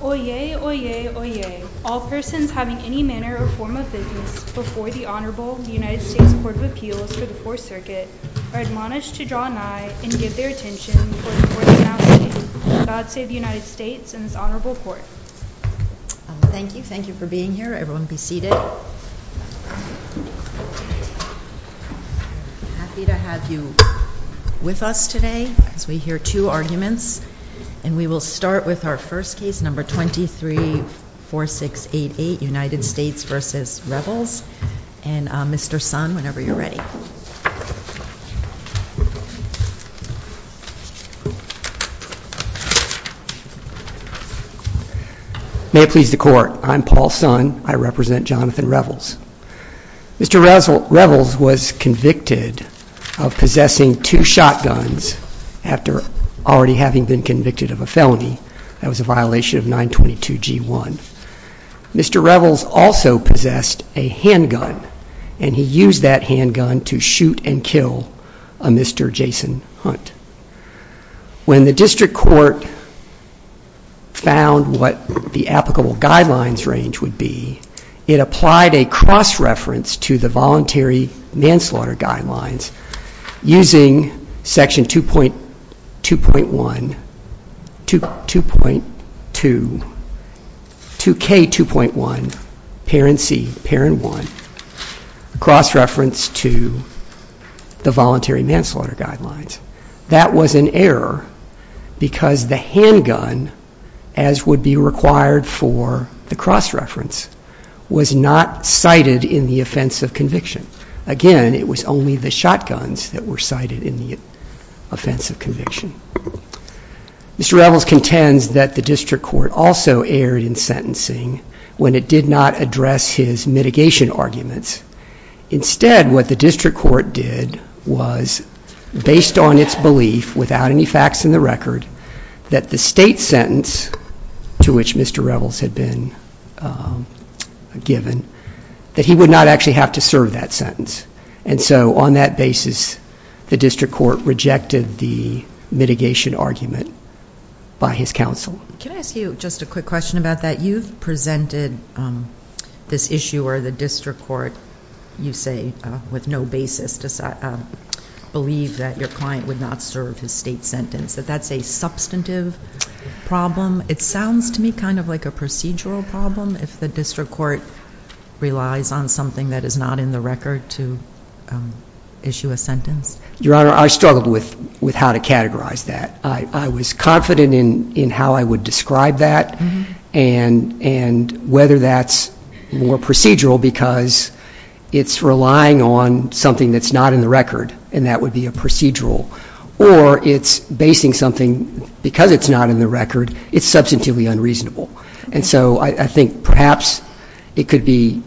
Oyez, oyez, oyez, all persons having any manner or form of business before the Honorable United States Court of Appeals for the Fourth Circuit are admonished to draw nigh and give their attention before the Court of Announcing the God Save the United States and this Honorable Court. Thank you. Thank you for being here. Everyone be seated. I'm happy to have you with us today as we hear two arguments and we will start with our first case, number 234688, United States v. Revels. And Mr. Sun, whenever you're ready. May it please the Court, I'm Paul Sun. I represent Jonathan Revels. Mr. Revels was convicted of possessing two shotguns after already having been convicted of a felony. That was a violation of 922 G1. Mr. Revels also possessed a handgun and he used that handgun to shoot and kill a Mr. Jason Hunt. When the District Court found what the applicable guidelines range would be, it applied a cross-reference to the voluntary manslaughter guidelines using section 2.2.1, 2.2, 2K2.1, parent c, parent 1. A cross-reference to the voluntary manslaughter guidelines. That was an error because the handgun, as would be required for the cross-reference, was not cited in the offense of conviction. Again, it was only the shotguns that were cited in the offense of conviction. Mr. Revels contends that the district court also erred in sentencing when it did not address his mitigation arguments. Instead, what the district court did was, based on its belief, without any facts in the record, that the state sentence to which Mr. Revels had been given, that he would not actually have to serve that sentence. And so, on that basis, the district court rejected the mitigation argument by his counsel. Can I ask you just a quick question about that? You've presented this issue where the district court, you say, with no basis, believes that your client would not serve his state sentence, that that's a substantive problem. It sounds to me kind of like a procedural problem if the district court relies on something that is not in the record to issue a sentence. Your Honor, I struggled with how to categorize that. I was confident in how I would describe that and whether that's more procedural because it's relying on something that's not in the record, and that would be a procedural, or it's basing something because it's not in the record, it's substantively unreasonable. And so I think perhaps it could be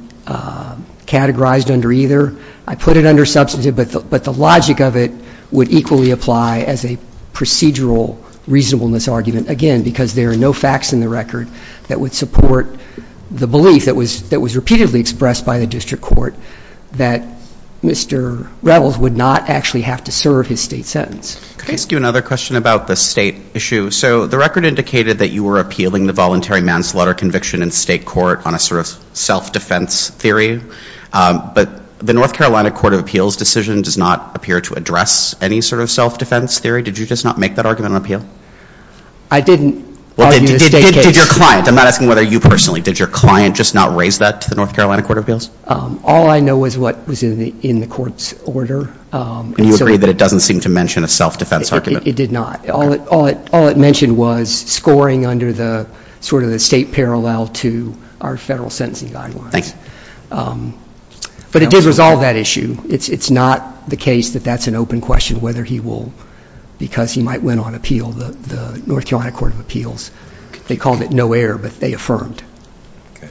categorized under either. I put it under substantive, but the logic of it would equally apply as a procedural reasonableness argument, again, because there are no facts in the record that would support the belief that was repeatedly expressed by the district court that Mr. Revels would not actually have to serve his state sentence. Can I ask you another question about the state issue? So the record indicated that you were appealing the voluntary manslaughter conviction in state court on a sort of self-defense theory, but the North Carolina Court of Appeals decision does not appear to address any sort of self-defense theory. Did you just not make that argument on appeal? I didn't argue the state case. Well, did your client? I'm not asking whether you personally. Did your client just not raise that to the North Carolina Court of Appeals? All I know is what was in the court's order. And you agree that it doesn't seem to mention a self-defense argument? It did not. All it mentioned was scoring under the sort of the state parallel to our federal sentencing guidelines. Thanks. But it did resolve that issue. It's not the case that that's an open question whether he will, because he might win on appeal, the North Carolina Court of Appeals. They called it no-error, but they affirmed. Okay.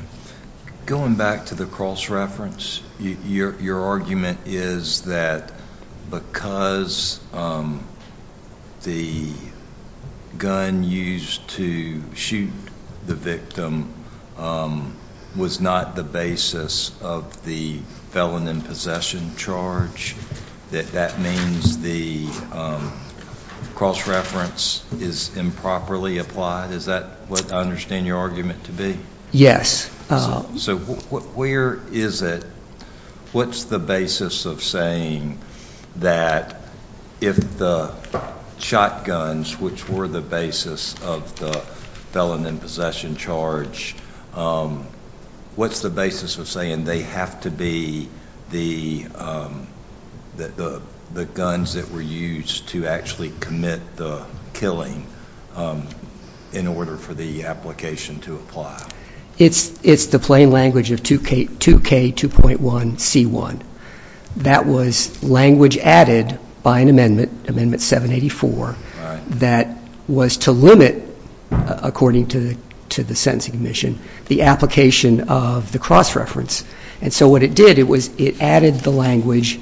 Going back to the cross-reference, your argument is that because the gun used to shoot the victim was not the basis of the felon in possession charge, that that means the cross-reference is improperly applied? Is that what I understand your argument to be? Yes. So where is it, what's the basis of saying that if the shotguns, which were the basis of the felon in possession charge, what's the basis of saying they have to be the guns that were used to actually commit the killing in order for the application to apply? It's the plain language of 2K2.1C1. That was language added by an amendment, Amendment 784, that was to limit, according to the sentencing commission, the application of the cross-reference. And so what it did, it added the language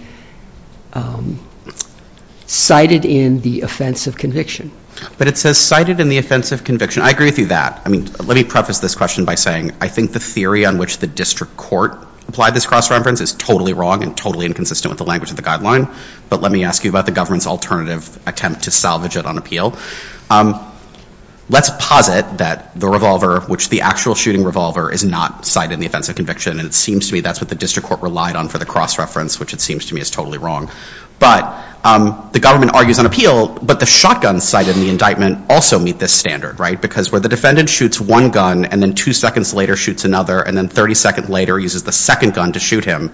cited in the offense of conviction. But it says cited in the offense of conviction. I agree with you on that. I mean, let me preface this question by saying I think the theory on which the district court applied this cross-reference is totally wrong and totally inconsistent with the language of the guideline. But let me ask you about the government's alternative attempt to salvage it on appeal. Let's posit that the revolver, which the actual shooting revolver, is not cited in the offense of conviction. And it seems to me that's what the district court relied on for the cross-reference, which it seems to me is totally wrong. But the government argues on appeal, but the shotguns cited in the indictment also meet this standard, right? Because where the defendant shoots one gun and then two seconds later shoots another and then 30 seconds later uses the second gun to shoot him,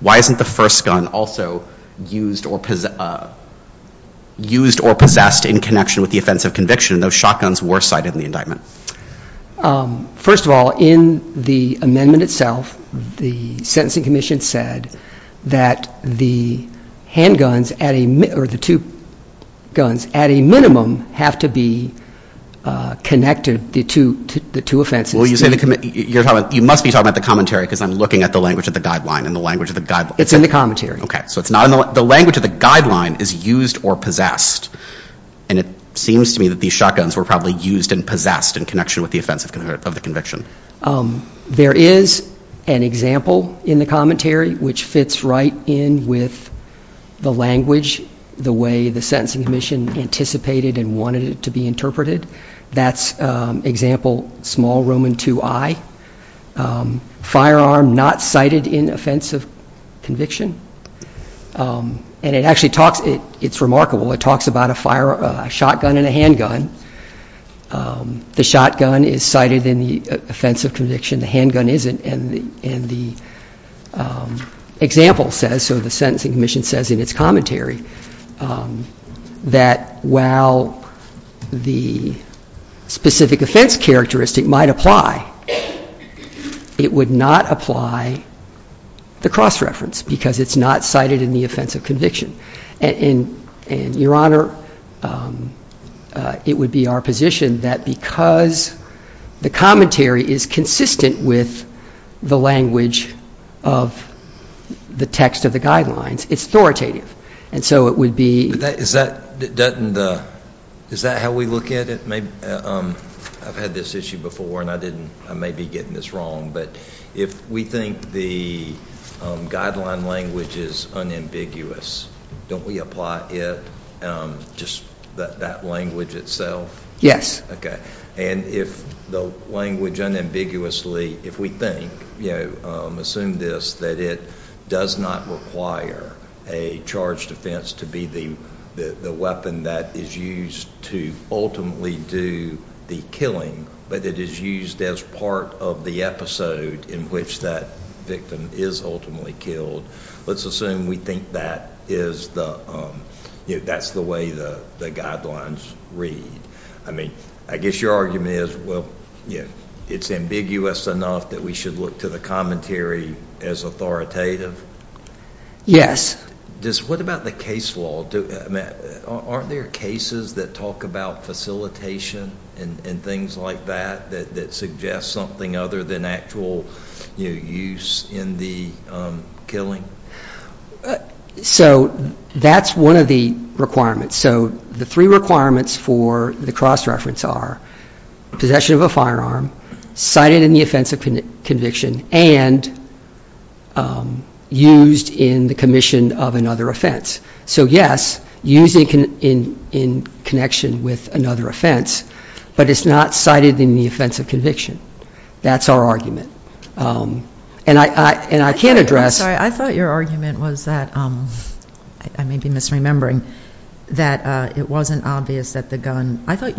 why isn't the first gun also used or possessed in connection with the offense of conviction, and those shotguns were cited in the indictment? First of all, in the amendment itself, the sentencing commission said that the handguns, or the two guns, at a minimum have to be connected, the two offenses. Well, you must be talking about the commentary because I'm looking at the language of the guideline and the language of the guideline. It's in the commentary. Okay. So the language of the guideline is used or possessed, and it seems to me that these shotguns were probably used and possessed in connection with the offense of the conviction. There is an example in the commentary which fits right in with the language, the way the sentencing commission anticipated and wanted it to be interpreted. That's example small Roman II I, firearm not cited in offense of conviction. And it actually talks, it's remarkable, it talks about a shotgun and a handgun. The shotgun is cited in the offense of conviction. The handgun isn't. And the example says, so the sentencing commission says in its commentary, that while the specific offense characteristic might apply, it would not apply the cross-reference because it's not cited in the offense of conviction. And, Your Honor, it would be our position that because the commentary is consistent with the language of the text of the guidelines, it's authoritative. And so it would be. Is that how we look at it? I've had this issue before, and I may be getting this wrong, but if we think the guideline language is unambiguous, don't we apply it, just that language itself? Yes. Okay. And if the language unambiguously, if we think, assume this, that it does not require a charge defense to be the weapon that is used to ultimately do the killing, but it is used as part of the episode in which that victim is ultimately killed, let's assume we think that's the way the guidelines read. I mean, I guess your argument is, well, it's ambiguous enough that we should look to the commentary as authoritative? Yes. What about the case law? Aren't there cases that talk about facilitation and things like that, that suggest something other than actual use in the killing? So that's one of the requirements. So the three requirements for the cross-reference are possession of a firearm, cited in the offense of conviction, and used in the commission of another offense. So, yes, used in connection with another offense, but it's not cited in the offense of conviction. That's our argument. And I can't address- I'm sorry. I thought your argument was that, I may be misremembering, that it wasn't obvious that the gun, and that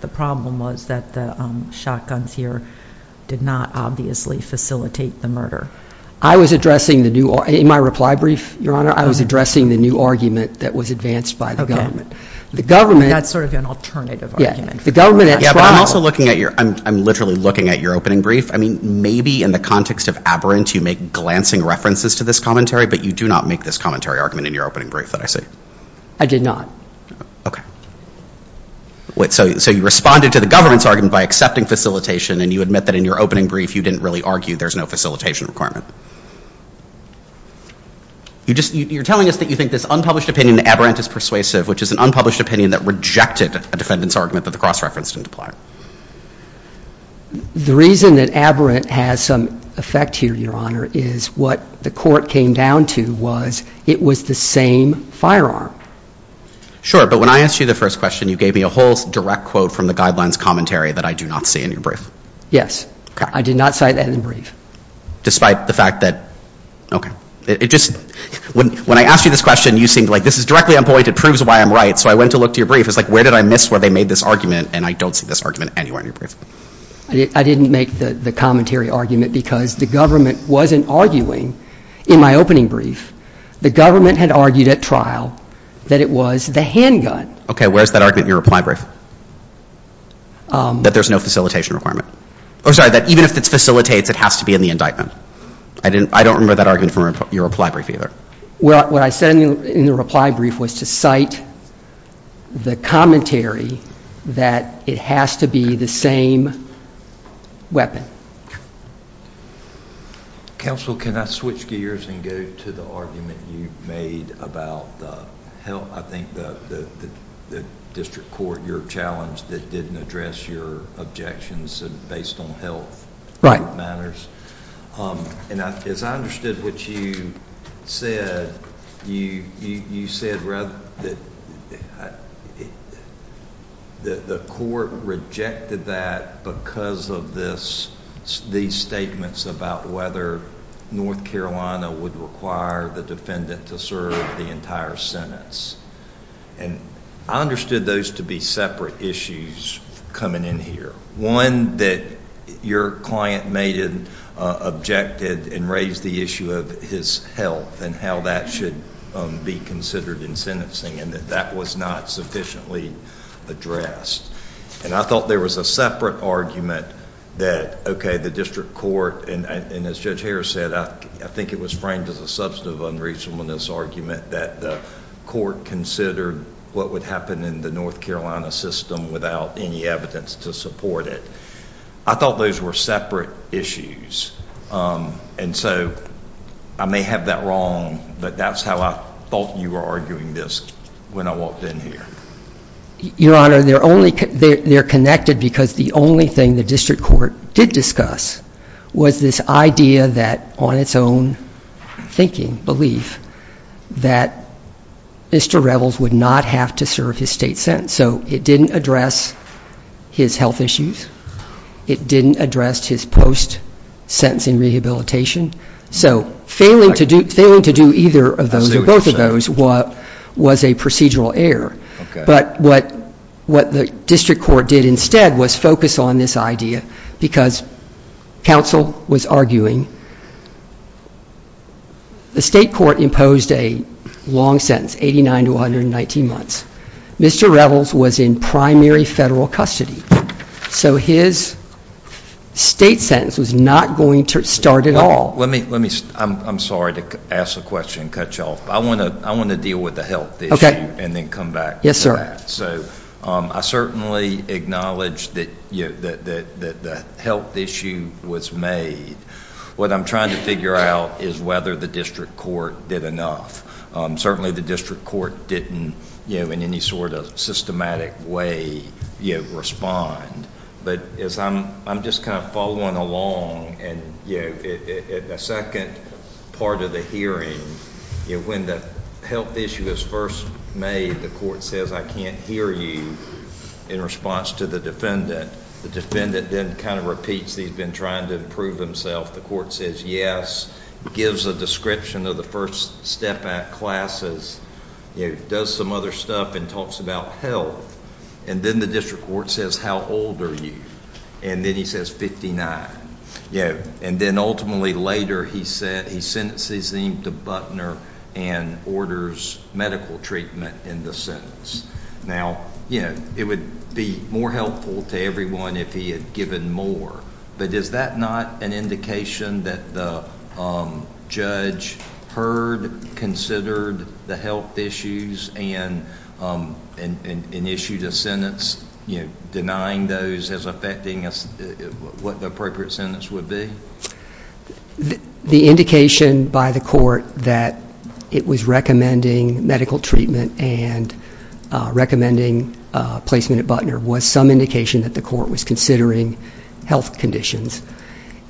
the problem was that the shotguns here did not obviously facilitate the murder. I was addressing the new, in my reply brief, Your Honor, I was addressing the new argument that was advanced by the government. The government- That's sort of an alternative argument. Yeah. The government at trial- Yeah, but I'm also looking at your, I'm literally looking at your opening brief. I mean, maybe in the context of aberrant, you make glancing references to this commentary, but you do not make this commentary argument in your opening brief that I see. I did not. Okay. So, you responded to the government's argument by accepting facilitation, and you admit that in your opening brief you didn't really argue there's no facilitation requirement. You're telling us that you think this unpublished opinion that aberrant is persuasive, which is an unpublished opinion that rejected a defendant's argument that the cross-reference didn't apply. The reason that aberrant has some effect here, Your Honor, is what the court came down to was it was the same firearm. Sure, but when I asked you the first question, you gave me a whole direct quote from the guidelines commentary that I do not see in your brief. Yes. Okay. I did not cite that in the brief. Despite the fact that, okay. It just, when I asked you this question, you seemed like, this is directly unpointed, proves why I'm right, so I went to look to your brief. It's like, where did I miss where they made this argument, and I don't see this argument anywhere in your brief. I didn't make the commentary argument because the government wasn't arguing in my opening brief. The government had argued at trial that it was the handgun. Okay, where's that argument in your reply brief? That there's no facilitation requirement. Oh, sorry, that even if it facilitates, it has to be in the indictment. I don't remember that argument from your reply brief either. What I said in the reply brief was to cite the commentary that it has to be the same weapon. Counsel, can I switch gears and go to the argument you made about the, I think, the district court, your challenge that didn't address your objections based on health matters? As I understood what you said, you said that the court rejected that because of these statements about whether North Carolina would require the defendant to serve the entire sentence. I understood those to be separate issues coming in here. One, that your client made an objective and raised the issue of his health and how that should be considered in sentencing, and that that was not sufficiently addressed. And I thought there was a separate argument that, okay, the district court, and as Judge Harris said, I think it was framed as a substantive unreasonableness argument that the court considered what would happen in the North Carolina system without any evidence to support it. I thought those were separate issues, and so I may have that wrong, but that's how I thought you were arguing this when I walked in here. Your Honor, they're connected because the only thing the district court did discuss was this idea that, on its own thinking, belief, that Mr. Revels would not have to serve his state sentence. So it didn't address his health issues. It didn't address his post-sentencing rehabilitation. So failing to do either of those or both of those was a procedural error. But what the district court did instead was focus on this idea because counsel was arguing the state court imposed a long sentence, 89 to 119 months. Mr. Revels was in primary federal custody, so his state sentence was not going to start at all. I'm sorry to ask a question and cut you off, but I want to deal with the health issue and then come back to that. So I certainly acknowledge that the health issue was made. What I'm trying to figure out is whether the district court did enough. Certainly the district court didn't, in any sort of systematic way, respond. But I'm just kind of following along. The second part of the hearing, when the health issue is first made, the court says, I can't hear you, in response to the defendant. The defendant then kind of repeats that he's been trying to improve himself. The court says yes, gives a description of the first step at classes, does some other stuff and talks about health. And then the district court says, how old are you? And then he says 59. And then ultimately later he sentences him to Butner and orders medical treatment in the sentence. Now, it would be more helpful to everyone if he had given more. But is that not an indication that the judge heard, considered the health issues and issued a sentence denying those as affecting what the appropriate sentence would be? The indication by the court that it was recommending medical treatment and recommending placement at Butner was some indication that the court was considering health conditions.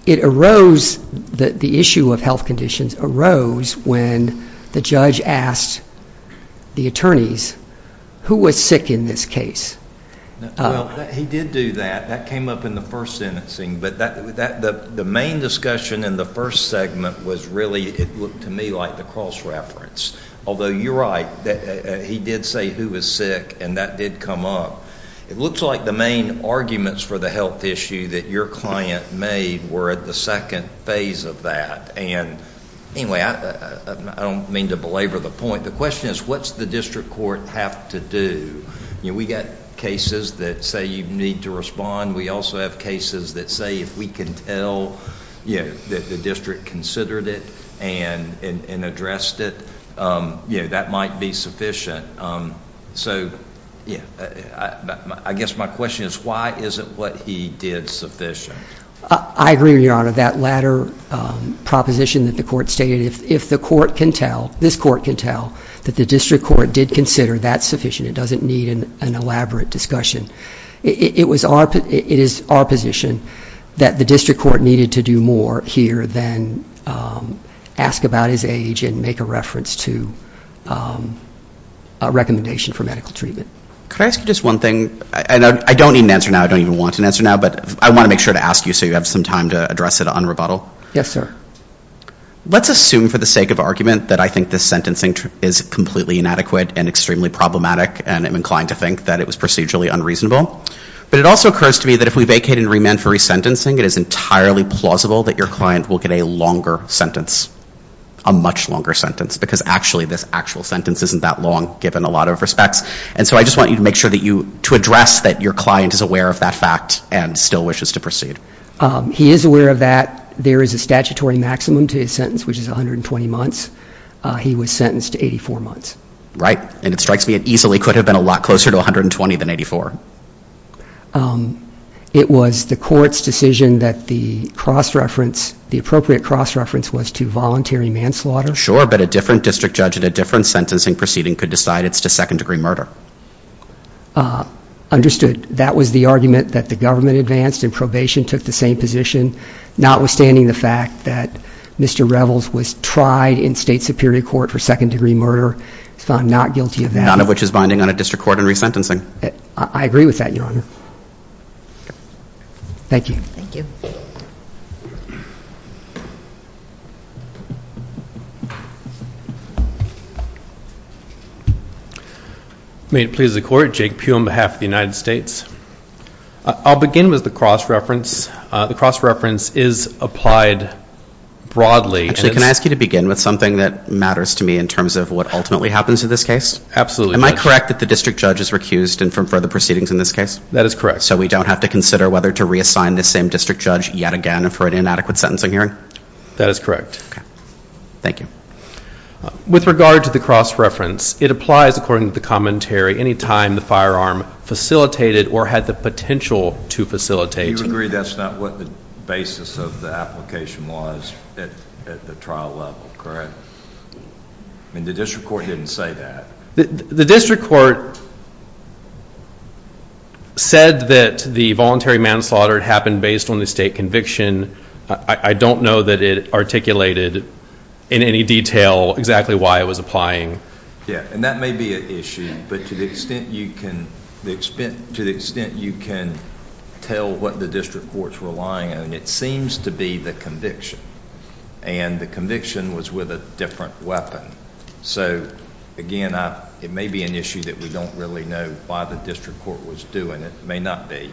It arose that the issue of health conditions arose when the judge asked the attorneys, who was sick in this case? Well, he did do that. That came up in the first sentencing. But the main discussion in the first segment was really, it looked to me like the cross-reference. Although you're right, he did say who was sick, and that did come up. It looks like the main arguments for the health issue that your client made were at the second phase of that. And anyway, I don't mean to belabor the point. The question is, what does the district court have to do? We've got cases that say you need to respond. We also have cases that say if we can tell that the district considered it and addressed it, that might be sufficient. So I guess my question is, why isn't what he did sufficient? I agree, Your Honor. That latter proposition that the court stated, if the court can tell, this court can tell, that the district court did consider, that's sufficient. It doesn't need an elaborate discussion. It is our position that the district court needed to do more here than ask about his age and make a reference to a recommendation for medical treatment. Could I ask you just one thing? I don't need an answer now, I don't even want an answer now, but I want to make sure to ask you so you have some time to address it on rebuttal. Yes, sir. Let's assume for the sake of argument that I think this sentencing is completely inadequate and extremely problematic and I'm inclined to think that it was procedurally unreasonable. But it also occurs to me that if we vacate and remand for resentencing, it is entirely plausible that your client will get a longer sentence, a much longer sentence, because actually this actual sentence isn't that long given a lot of respects. And so I just want you to make sure that you, to address that your client is aware of that fact and still wishes to proceed. He is aware of that. There is a statutory maximum to his sentence, which is 120 months. He was sentenced to 84 months. Right. And it strikes me it easily could have been a lot closer to 120 than 84. It was the court's decision that the cross-reference, the appropriate cross-reference was to voluntary manslaughter. Sure, but a different district judge at a different sentencing proceeding could decide it's to second degree murder. Understood. That was the argument that the government advanced and probation took the same position, notwithstanding the fact that Mr. Revels was tried in state superior court for second degree murder and was found not guilty of that. None of which is binding on a district court in resentencing. I agree with that, Your Honor. Thank you. Thank you. May it please the Court, Jake Pugh on behalf of the United States. I'll begin with the cross-reference. The cross-reference is applied broadly. Actually, can I ask you to begin with something that matters to me in terms of what ultimately happens in this case? Absolutely. Am I correct that the district judge is recused from further proceedings in this case? That is correct. So we don't have to consider whether to reassign the same district judge yet again for an inadequate sentencing hearing? That is correct. Okay. Thank you. With regard to the cross-reference, it applies according to the commentary any time the firearm facilitated or had the potential to facilitate. You agree that's not what the basis of the application was at the trial level, correct? The district court didn't say that. The district court said that the voluntary manslaughter happened based on the state conviction. I don't know that it articulated in any detail exactly why it was applying. Yeah, and that may be an issue, but to the extent you can tell what the district court's relying on, it seems to be the conviction. And the conviction was with a different weapon. So, again, it may be an issue that we don't really know why the district court was doing it. It may not be.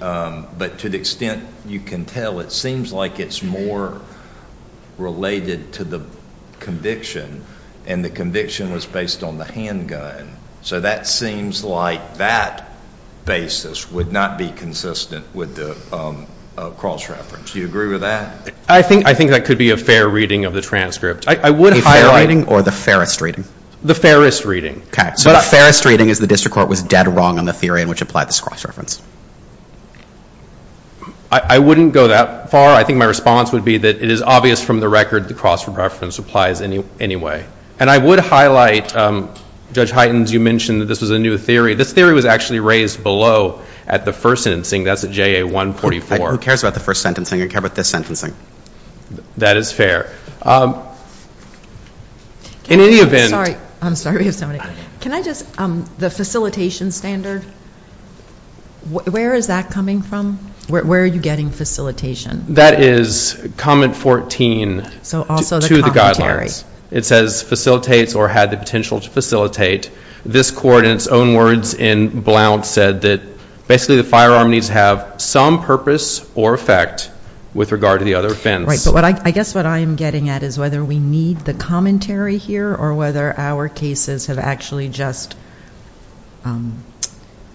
But to the extent you can tell, it seems like it's more related to the conviction, and the conviction was based on the handgun. So that seems like that basis would not be consistent with the cross-reference. Do you agree with that? I think that could be a fair reading of the transcript. A fair reading or the fairest reading? The fairest reading. Okay, so the fairest reading is the district court was dead wrong on the theory in which it applied this cross-reference. I wouldn't go that far. I think my response would be that it is obvious from the record the cross-reference applies anyway. And I would highlight, Judge Hytens, you mentioned that this was a new theory. This theory was actually raised below at the first sentencing. That's at JA 144. Who cares about the first sentencing? I care about this sentencing. That is fair. In any event. I'm sorry. Can I just, the facilitation standard, where is that coming from? Where are you getting facilitation? That is comment 14 to the guidelines. It says facilitates or had the potential to facilitate. This court in its own words in Blount said that basically the firearm needs to have some purpose or effect with regard to the other offense. I guess what I'm getting at is whether we need the commentary here or whether our cases have actually just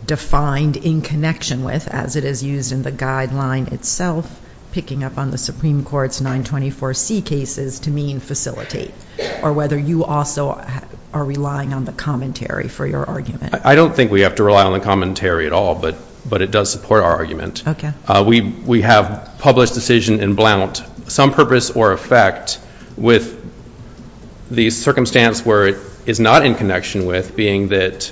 defined in connection with, as it is used in the guideline itself, picking up on the Supreme Court's 924C cases to mean facilitate. Or whether you also are relying on the commentary for your argument. I don't think we have to rely on the commentary at all, but it does support our argument. Okay. We have published decision in Blount. Some purpose or effect with the circumstance where it is not in connection with being that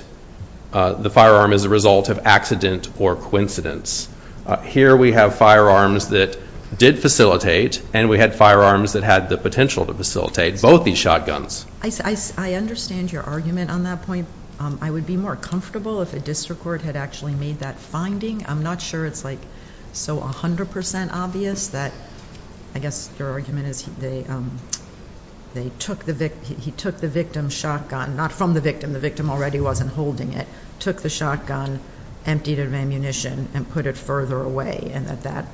the firearm is a result of accident or coincidence. Here we have firearms that did facilitate and we had firearms that had the potential to facilitate both these shotguns. I understand your argument on that point. I would be more comfortable if a district court had actually made that finding. I'm not sure it's like so 100% obvious that, I guess your argument is he took the victim's shotgun, not from the victim, the victim already wasn't holding it, took the shotgun, emptied it of ammunition, and put it further away. And that that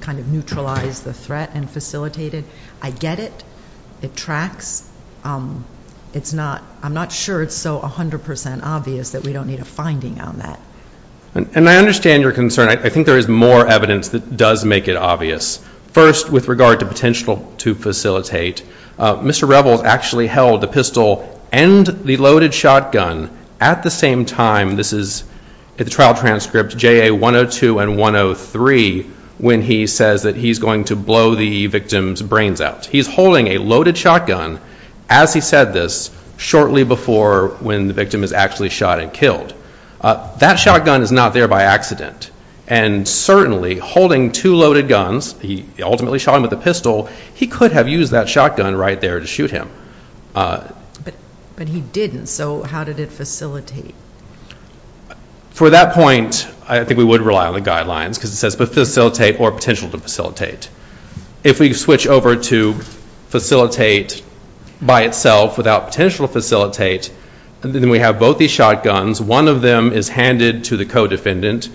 kind of neutralized the threat and facilitated. I get it. It tracks. I'm not sure it's so 100% obvious that we don't need a finding on that. And I understand your concern. I think there is more evidence that does make it obvious. First, with regard to potential to facilitate, Mr. Rebels actually held the pistol and the loaded shotgun at the same time. This is the trial transcript, JA 102 and 103, when he says that he's going to blow the victim's brains out. He's holding a loaded shotgun, as he said this, shortly before when the victim is actually shot and killed. That shotgun is not there by accident. And certainly holding two loaded guns, he ultimately shot him with a pistol, he could have used that shotgun right there to shoot him. But he didn't. So how did it facilitate? For that point, I think we would rely on the guidelines because it says facilitate or potential to facilitate. If we switch over to facilitate by itself without potential to facilitate, then we have both these shotguns. One of them is handed to the co-defendant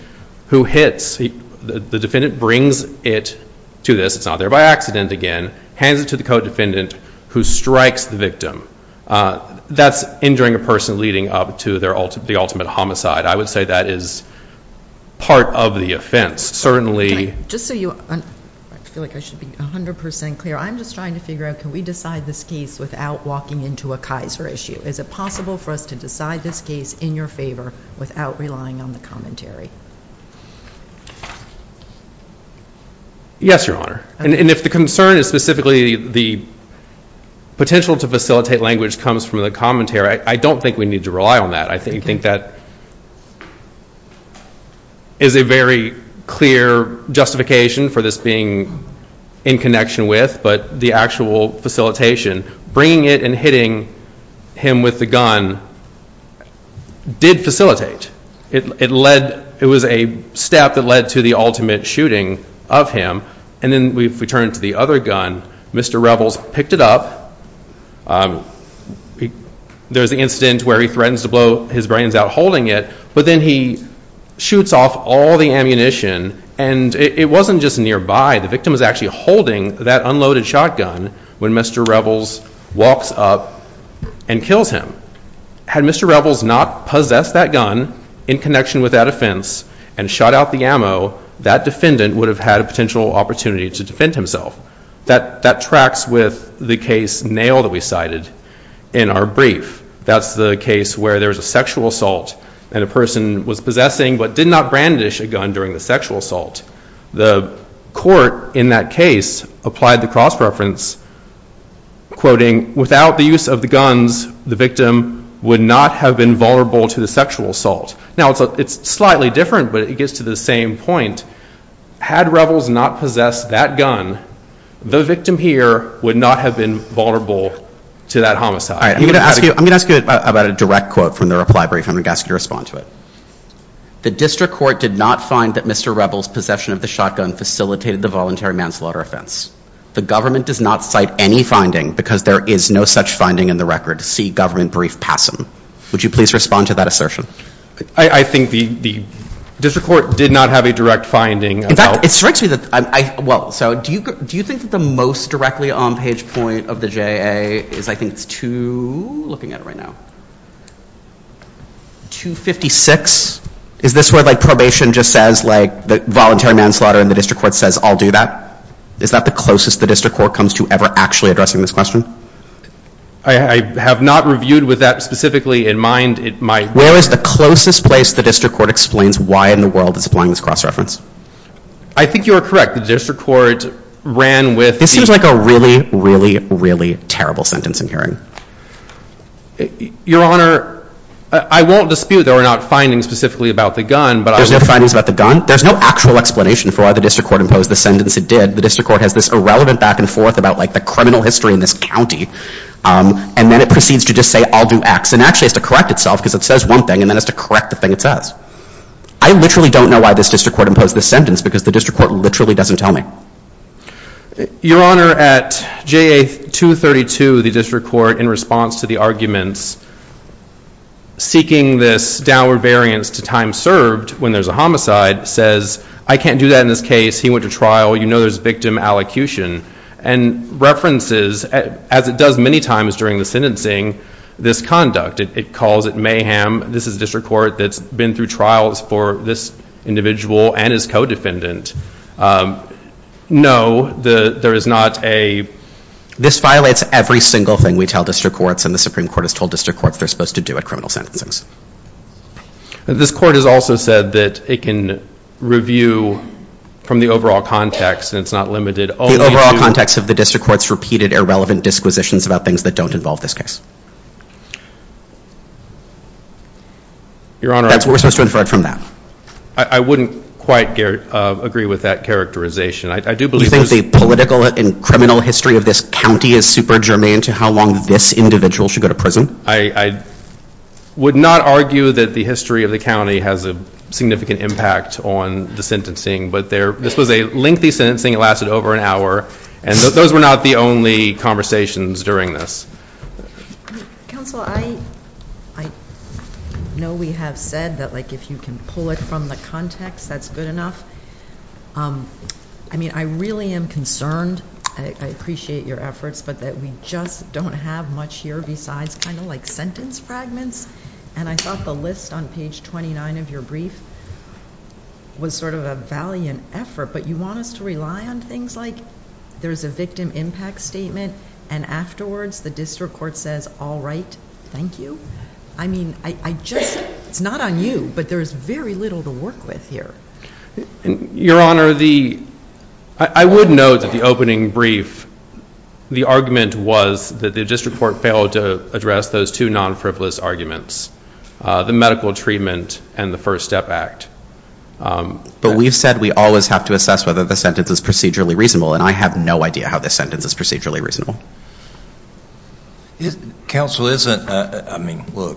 who hits. The defendant brings it to this. It's not there by accident again. Hands it to the co-defendant who strikes the victim. That's injuring a person leading up to the ultimate homicide. I would say that is part of the offense. I feel like I should be 100% clear. I'm just trying to figure out can we decide this case without walking into a Kaiser issue? Is it possible for us to decide this case in your favor without relying on the commentary? Yes, Your Honor. And if the concern is specifically the potential to facilitate language comes from the commentary, I don't think we need to rely on that. I think that is a very clear justification for this being in connection with, but the actual facilitation, bringing it and hitting him with the gun did facilitate. It was a step that led to the ultimate shooting of him. And then if we turn to the other gun, Mr. Revels picked it up. There's the incident where he threatens to blow his brains out holding it, but then he shoots off all the ammunition. And it wasn't just nearby. The victim was actually holding that unloaded shotgun when Mr. Revels walks up and kills him. Had Mr. Revels not possessed that gun in connection with that offense and shot out the ammo, that defendant would have had a potential opportunity to defend himself. That tracks with the case Nail that we cited in our brief. That's the case where there's a sexual assault and a person was possessing but did not brandish a gun during the sexual assault. The court in that case applied the cross-reference, quoting, without the use of the guns, the victim would not have been vulnerable to the sexual assault. Now, it's slightly different, but it gets to the same point. Had Revels not possessed that gun, the victim here would not have been vulnerable to that homicide. I'm going to ask you about a direct quote from the reply brief. I'm going to ask you to respond to it. The district court did not find that Mr. Revels' possession of the shotgun facilitated the voluntary manslaughter offense. The government does not cite any finding because there is no such finding in the record. See government brief Passam. Would you please respond to that assertion? I think the district court did not have a direct finding. In fact, it strikes me that, well, so do you think that the most directly on page point of the JA is I think it's 2, looking at it right now, 256? Is this where like probation just says like the voluntary manslaughter and the district court says I'll do that? Is that the closest the district court comes to ever actually addressing this question? I have not reviewed with that specifically in mind. Where is the closest place the district court explains why in the world it's applying this cross reference? I think you are correct. The district court ran with. This seems like a really, really, really terrible sentence I'm hearing. Your Honor, I won't dispute that we're not finding specifically about the gun, but. There's no findings about the gun? There's no actual explanation for why the district court imposed the sentence it did. The district court has this irrelevant back and forth about like the criminal history in this county. And then it proceeds to just say I'll do X. And actually has to correct itself because it says one thing and then has to correct the thing it says. I literally don't know why this district court imposed this sentence because the district court literally doesn't tell me. Your Honor, at JA 232, the district court in response to the arguments seeking this downward variance to time served when there's a homicide says I can't do that in this case. He went to trial. You know there's victim allocution. And references, as it does many times during the sentencing, this conduct. It calls it mayhem. This is a district court that's been through trials for this individual and his co-defendant. No, there is not a. This violates every single thing we tell district courts. And the Supreme Court has told district courts they're supposed to do at criminal sentencings. This court has also said that it can review from the overall context and it's not limited only. The overall context of the district court's repeated irrelevant disquisitions about things that don't involve this case. Your Honor. That's what we're supposed to infer from that. I wouldn't quite agree with that characterization. I do believe. You think the political and criminal history of this county is super germane to how long this individual should go to prison? I would not argue that the history of the county has a significant impact on the sentencing. But this was a lengthy sentencing. It lasted over an hour. And those were not the only conversations during this. Counsel, I know we have said that if you can pull it from the context, that's good enough. I mean, I really am concerned. I appreciate your efforts. But we just don't have much here besides kind of like sentence fragments. And I thought the list on page 29 of your brief was sort of a valiant effort. But you want us to rely on things like there's a victim impact statement and afterwards the district court says, all right, thank you? I mean, I just, it's not on you. But there's very little to work with here. Your Honor, the, I would note that the opening brief, the argument was that the district court failed to address those two non-frivolous arguments. The medical treatment and the First Step Act. But we've said we always have to assess whether the sentence is procedurally reasonable. And I have no idea how this sentence is procedurally reasonable. Counsel, isn't, I mean, look,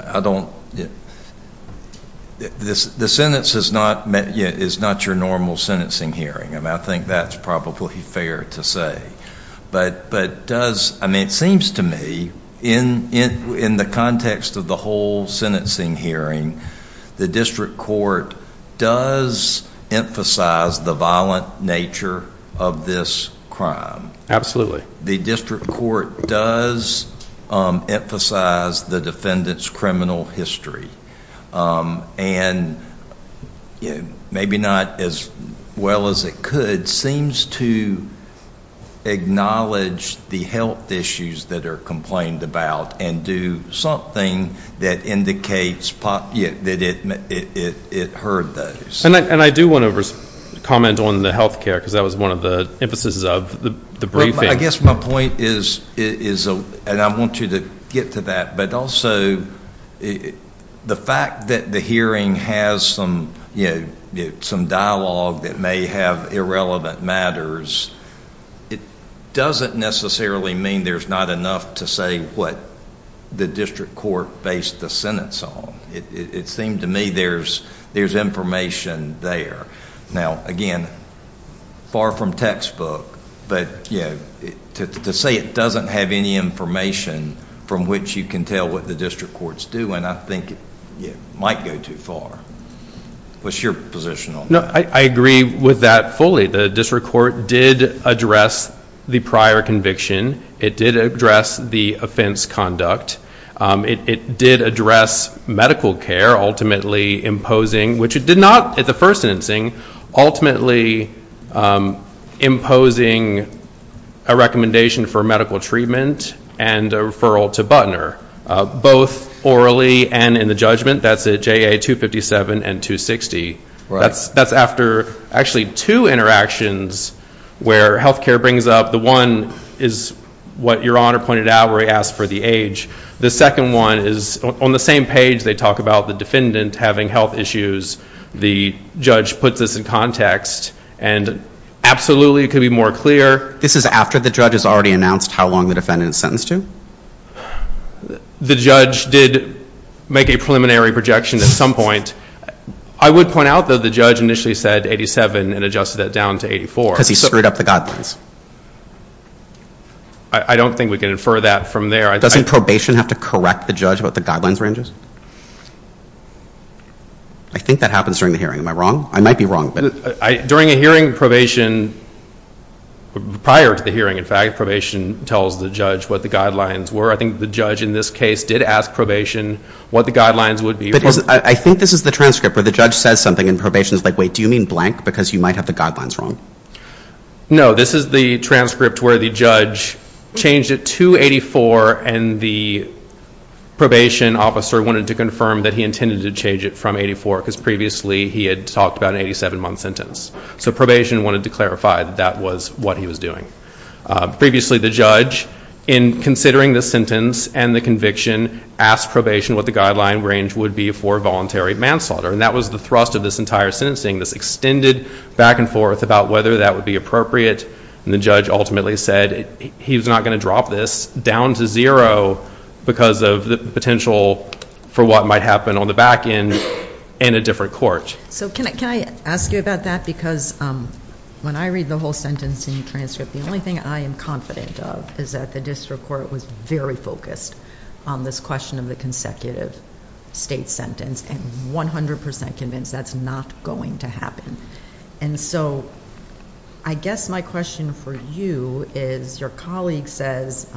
I don't, the sentence is not your normal sentencing hearing. I think that's probably fair to say. But does, I mean, it seems to me in the context of the whole sentencing hearing, the district court does emphasize the violent nature of this crime. Absolutely. The district court does emphasize the defendant's criminal history. And maybe not as well as it could, seems to acknowledge the health issues that are complained about and do something that indicates that it heard those. And I do want to comment on the health care because that was one of the emphases of the briefing. I guess my point is, and I want you to get to that, but also the fact that the hearing has some dialogue that may have irrelevant matters, it doesn't necessarily mean there's not enough to say what the district court based the sentence on. It seemed to me there's information there. Now, again, far from textbook, but to say it doesn't have any information from which you can tell what the district court's doing, I think it might go too far. What's your position on that? I agree with that fully. The district court did address the prior conviction. It did address the offense conduct. It did address medical care, ultimately imposing, which it did not at the first sentencing, ultimately imposing a recommendation for medical treatment and a referral to Butner, both orally and in the judgment. That's at JA 257 and 260. That's after actually two interactions where health care brings up the one is what Your Honor pointed out where he asked for the age. The second one is on the same page they talk about the defendant having health issues. The judge puts this in context, and absolutely it could be more clear. This is after the judge has already announced how long the defendant is sentenced to? The judge did make a preliminary projection at some point. I would point out, though, the judge initially said 87 and adjusted that down to 84. Because he screwed up the guidelines. I don't think we can infer that from there. Doesn't probation have to correct the judge about the guidelines ranges? I think that happens during the hearing. Am I wrong? I might be wrong. During a hearing, probation, prior to the hearing, in fact, probation tells the judge what the guidelines were. I think the judge in this case did ask probation what the guidelines would be. I think this is the transcript where the judge says something and probation is like, wait, do you mean blank because you might have the guidelines wrong? No, this is the transcript where the judge changed it to 84 and the probation officer wanted to confirm that he intended to change it from 84 because previously he had talked about an 87-month sentence. So probation wanted to clarify that that was what he was doing. Previously the judge, in considering the sentence and the conviction, asked probation what the guideline range would be for voluntary manslaughter. And that was the thrust of this entire sentencing, this extended back and forth about whether that would be appropriate. And the judge ultimately said he was not going to drop this down to zero because of the potential for what might happen on the back end in a different court. So can I ask you about that because when I read the whole sentencing transcript, the only thing I am confident of is that the district court was very focused on this question of the consecutive state sentence and 100% convinced that's not going to happen. And so I guess my question for you is your colleague says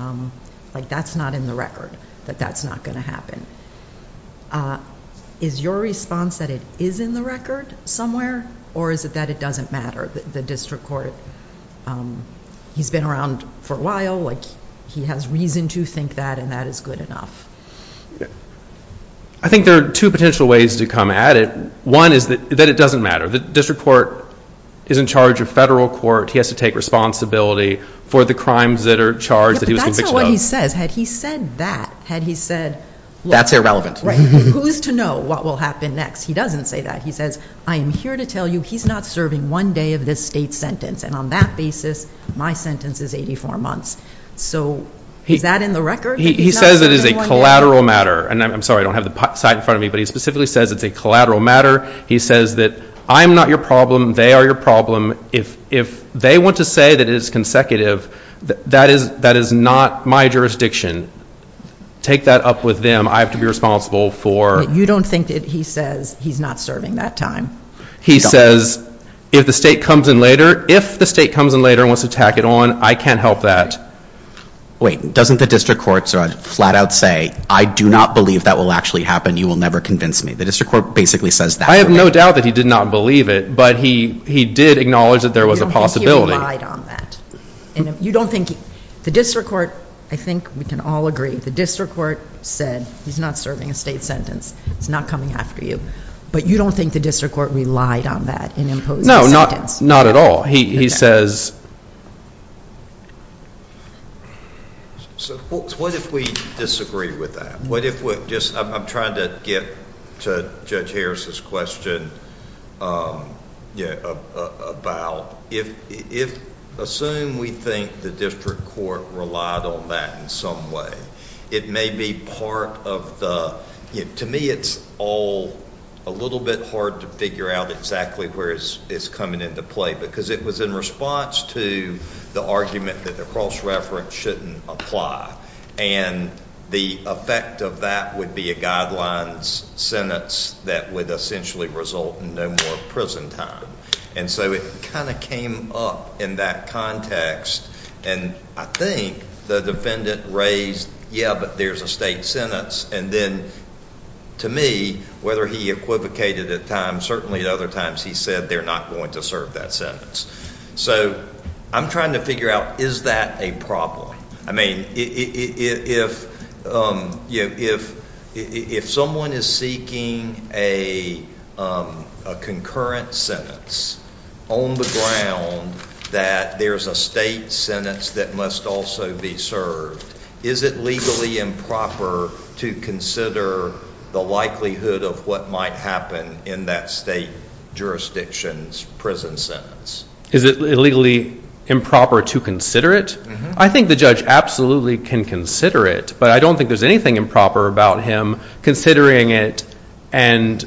that's not in the record, that that's not going to happen. Is your response that it is in the record somewhere or is it that it doesn't matter, the district court? He's been around for a while, he has reason to think that and that is good enough. I think there are two potential ways to come at it. One is that it doesn't matter. The district court is in charge of federal court. He has to take responsibility for the crimes that are charged that he was convicted of. That's what he says. Had he said that, had he said... That's irrelevant. Right. Who's to know what will happen next? He doesn't say that. He says, I am here to tell you he's not serving one day of this state sentence and on that basis, my sentence is 84 months. So is that in the record? He says it is a collateral matter. And I'm sorry, I don't have the slide in front of me, but he specifically says it's a collateral matter. He says that I'm not your problem, they are your problem. If they want to say that it is consecutive, that is not my jurisdiction. Take that up with them. I have to be responsible for... You don't think that he says he's not serving that time? He says if the state comes in later, if the state comes in later and wants to tack it on, I can't help that. Wait, doesn't the district court flat out say, I do not believe that will actually happen, you will never convince me. The district court basically says that. I have no doubt that he did not believe it, but he did acknowledge that there was a possibility. You don't think he relied on that? The district court, I think we can all agree, the district court said he's not serving a state sentence. It's not coming after you. But you don't think the district court relied on that in imposing the sentence? No, not at all. He says... What if we disagree with that? I'm trying to get to Judge Harris's question about, assume we think the district court relied on that in some way. It may be part of the... To me, it's all a little bit hard to figure out exactly where it's coming into play because it was in response to the argument that the cross-reference shouldn't apply. And the effect of that would be a guidelines sentence that would essentially result in no more prison time. And so it kind of came up in that context. And I think the defendant raised, yeah, but there's a state sentence. And then to me, whether he equivocated at times, certainly at other times he said they're not going to serve that sentence. So I'm trying to figure out, is that a problem? I mean, if someone is seeking a concurrent sentence on the ground that there's a state sentence that must also be served, is it legally improper to consider the likelihood of what might happen in that state jurisdiction's prison sentence? Is it legally improper to consider it? I think the judge absolutely can consider it, but I don't think there's anything improper about him considering it and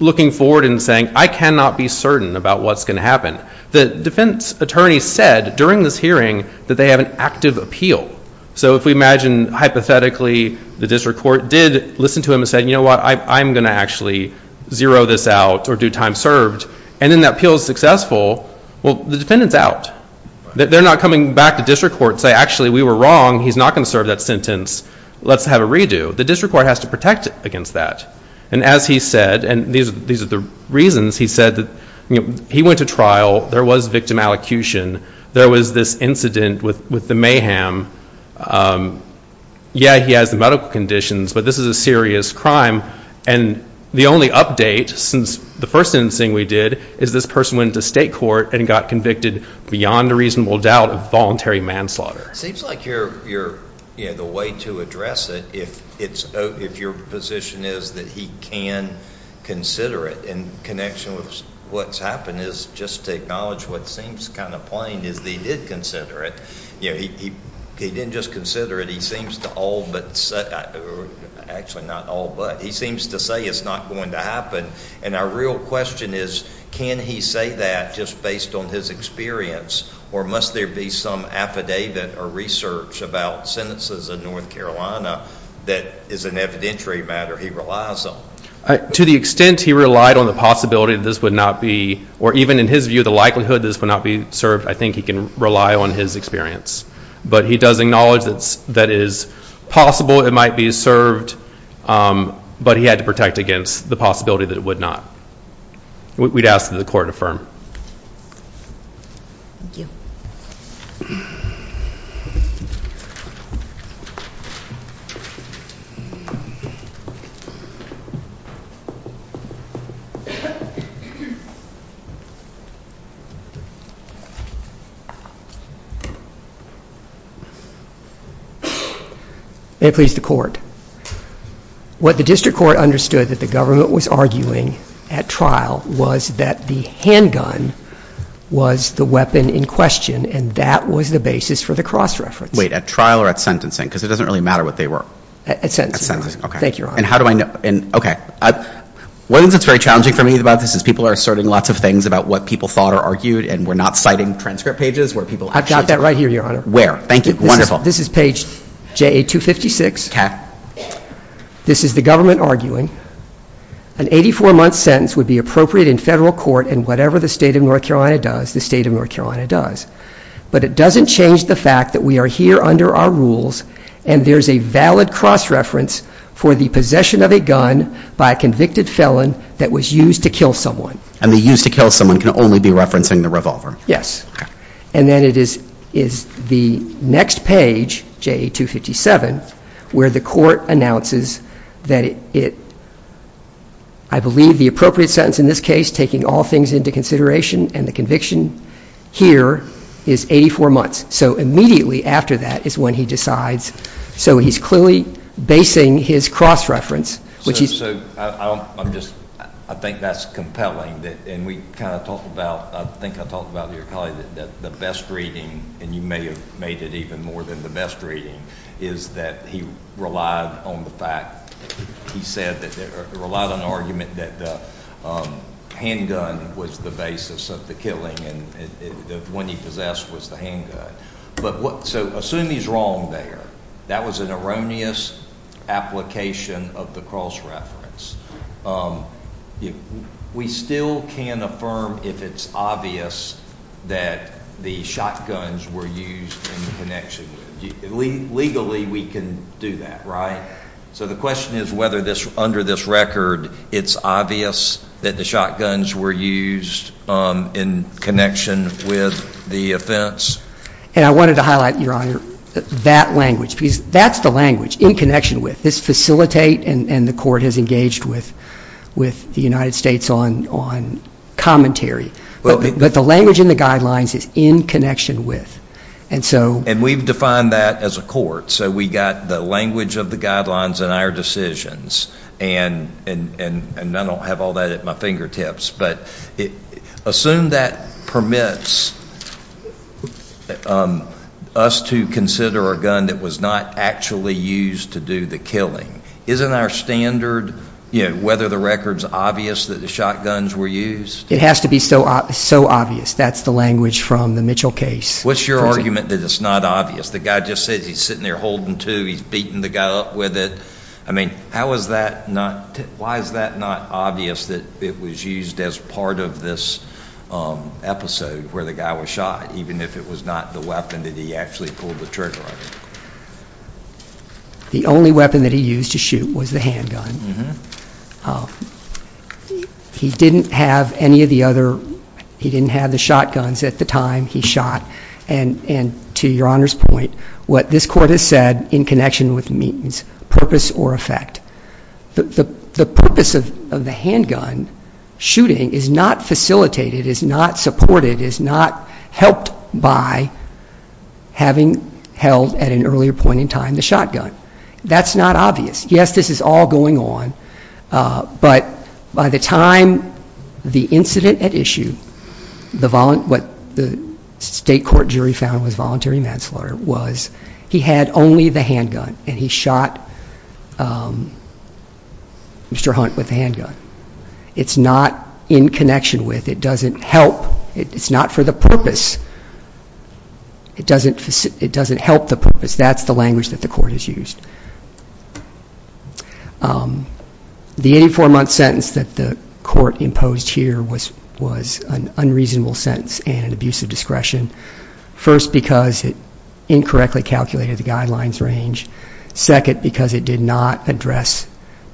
looking forward and saying, I cannot be certain about what's going to happen. The defense attorney said during this hearing that they have an active appeal. So if we imagine hypothetically the district court did listen to him and said, you know what, I'm going to actually zero this out or do time served, and then that appeal is successful, well, the defendant's out. They're not coming back to district court and saying, actually, we were wrong. He's not going to serve that sentence. Let's have a redo. The district court has to protect against that. And as he said, and these are the reasons he said, he went to trial. There was victim allocution. There was this incident with the mayhem. Yeah, he has the medical conditions, but this is a serious crime. And the only update since the first incident we did is this person went into state court and got convicted beyond a reasonable doubt of voluntary manslaughter. It seems like the way to address it, if your position is that he can consider it in connection with what's happened, is just to acknowledge what seems kind of plain is that he did consider it. He didn't just consider it. He seems to all but say, or actually not all but, he seems to say it's not going to happen. And our real question is, can he say that just based on his experience, or must there be some affidavit or research about sentences in North Carolina that is an evidentiary matter he relies on? To the extent he relied on the possibility that this would not be, or even in his view, the likelihood that this would not be served, I think he can rely on his experience. But he does acknowledge that it is possible it might be served, but he had to protect against the possibility that it would not. We'd ask that the court affirm. Thank you. May it please the court. What the district court understood that the government was arguing at trial was that the handgun was the weapon in question, and that was the basis for the cross-reference. Wait. At trial or at sentencing? Because it doesn't really matter what they were. At sentencing. At sentencing. Okay. Thank you, Your Honor. And how do I know? Okay. One of the things that's very challenging for me about this is people are asserting lots of things about what people thought or argued, and we're not citing transcript pages where people actually. I've got that right here, Your Honor. Where? Thank you. Wonderful. This is page JA-256. Okay. This is the government arguing. An 84-month sentence would be appropriate in federal court, and whatever the state of North Carolina does, the state of North Carolina does. But it doesn't change the fact that we are here under our rules, and there's a valid cross-reference for the possession of a gun by a convicted felon that was used to kill someone. And the used to kill someone can only be referencing the revolver. Yes. Okay. And then it is the next page, JA-257, where the court announces that it, I believe, the appropriate sentence in this case, taking all things into consideration, and the conviction here is 84 months. So immediately after that is when he decides. So he's clearly basing his cross-reference. I think that's compelling, and we kind of talked about, I think I talked about to your colleague that the best reading, and you may have made it even more than the best reading, is that he relied on the fact, he said, relied on the argument that the handgun was the basis of the killing and the one he possessed was the handgun. So assume he's wrong there. That was an erroneous application of the cross-reference. We still can't affirm if it's obvious that the shotguns were used in connection. Legally we can do that, right? So the question is whether under this record it's obvious that the shotguns were used in connection with the offense. And I wanted to highlight, Your Honor, that language, because that's the language, in connection with. This facilitate, and the court has engaged with the United States on commentary. But the language in the guidelines is in connection with. And we've defined that as a court, so we've got the language of the guidelines in our decisions, and I don't have all that at my fingertips. But assume that permits us to consider a gun that was not actually used to do the killing. Isn't our standard, you know, whether the record's obvious that the shotguns were used? It has to be so obvious. That's the language from the Mitchell case. What's your argument that it's not obvious? The guy just said he's sitting there holding two. He's beating the guy up with it. I mean, how is that notówhy is that not obvious that it was used as part of this episode where the guy was shot, even if it was not the weapon that he actually pulled the trigger on? The only weapon that he used to shoot was the handgun. He didn't have any of the otheróhe didn't have the shotguns at the time he shot. And to Your Honor's point, what this court has said in connection with means, purpose, or effect, the purpose of the handgun shooting is not facilitated, is not supported, is not helped by having held at an earlier point in time the shotgun. That's not obvious. Yes, this is all going on, but by the time the incident at issue, what the state court jury found was voluntary manslaughter was he had only the handgun, and he shot Mr. Hunt with the handgun. It's not in connection with, it doesn't help, it's not for the purpose. It doesn't help the purpose. That's the language that the court has used. The 84-month sentence that the court imposed here was an unreasonable sentence and an abuse of discretion, first because it incorrectly calculated the guidelines range, second because it did not address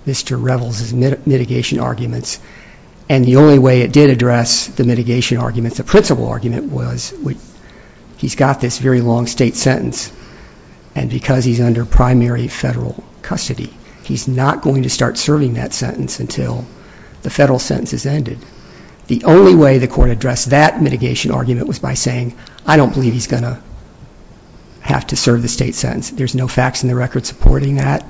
Mr. Revels' mitigation arguments, and the only way it did address the mitigation arguments, the principal argument, was he's got this very long state sentence, and because he's under primary federal custody, he's not going to start serving that sentence until the federal sentence has ended. The only way the court addressed that mitigation argument was by saying, I don't believe he's going to have to serve the state sentence. There's no facts in the record supporting that.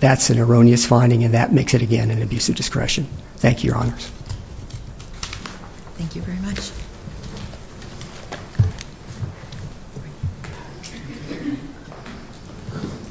That's an erroneous finding, and that makes it, again, an abuse of discretion. Thank you, Your Honors. Thank you very much.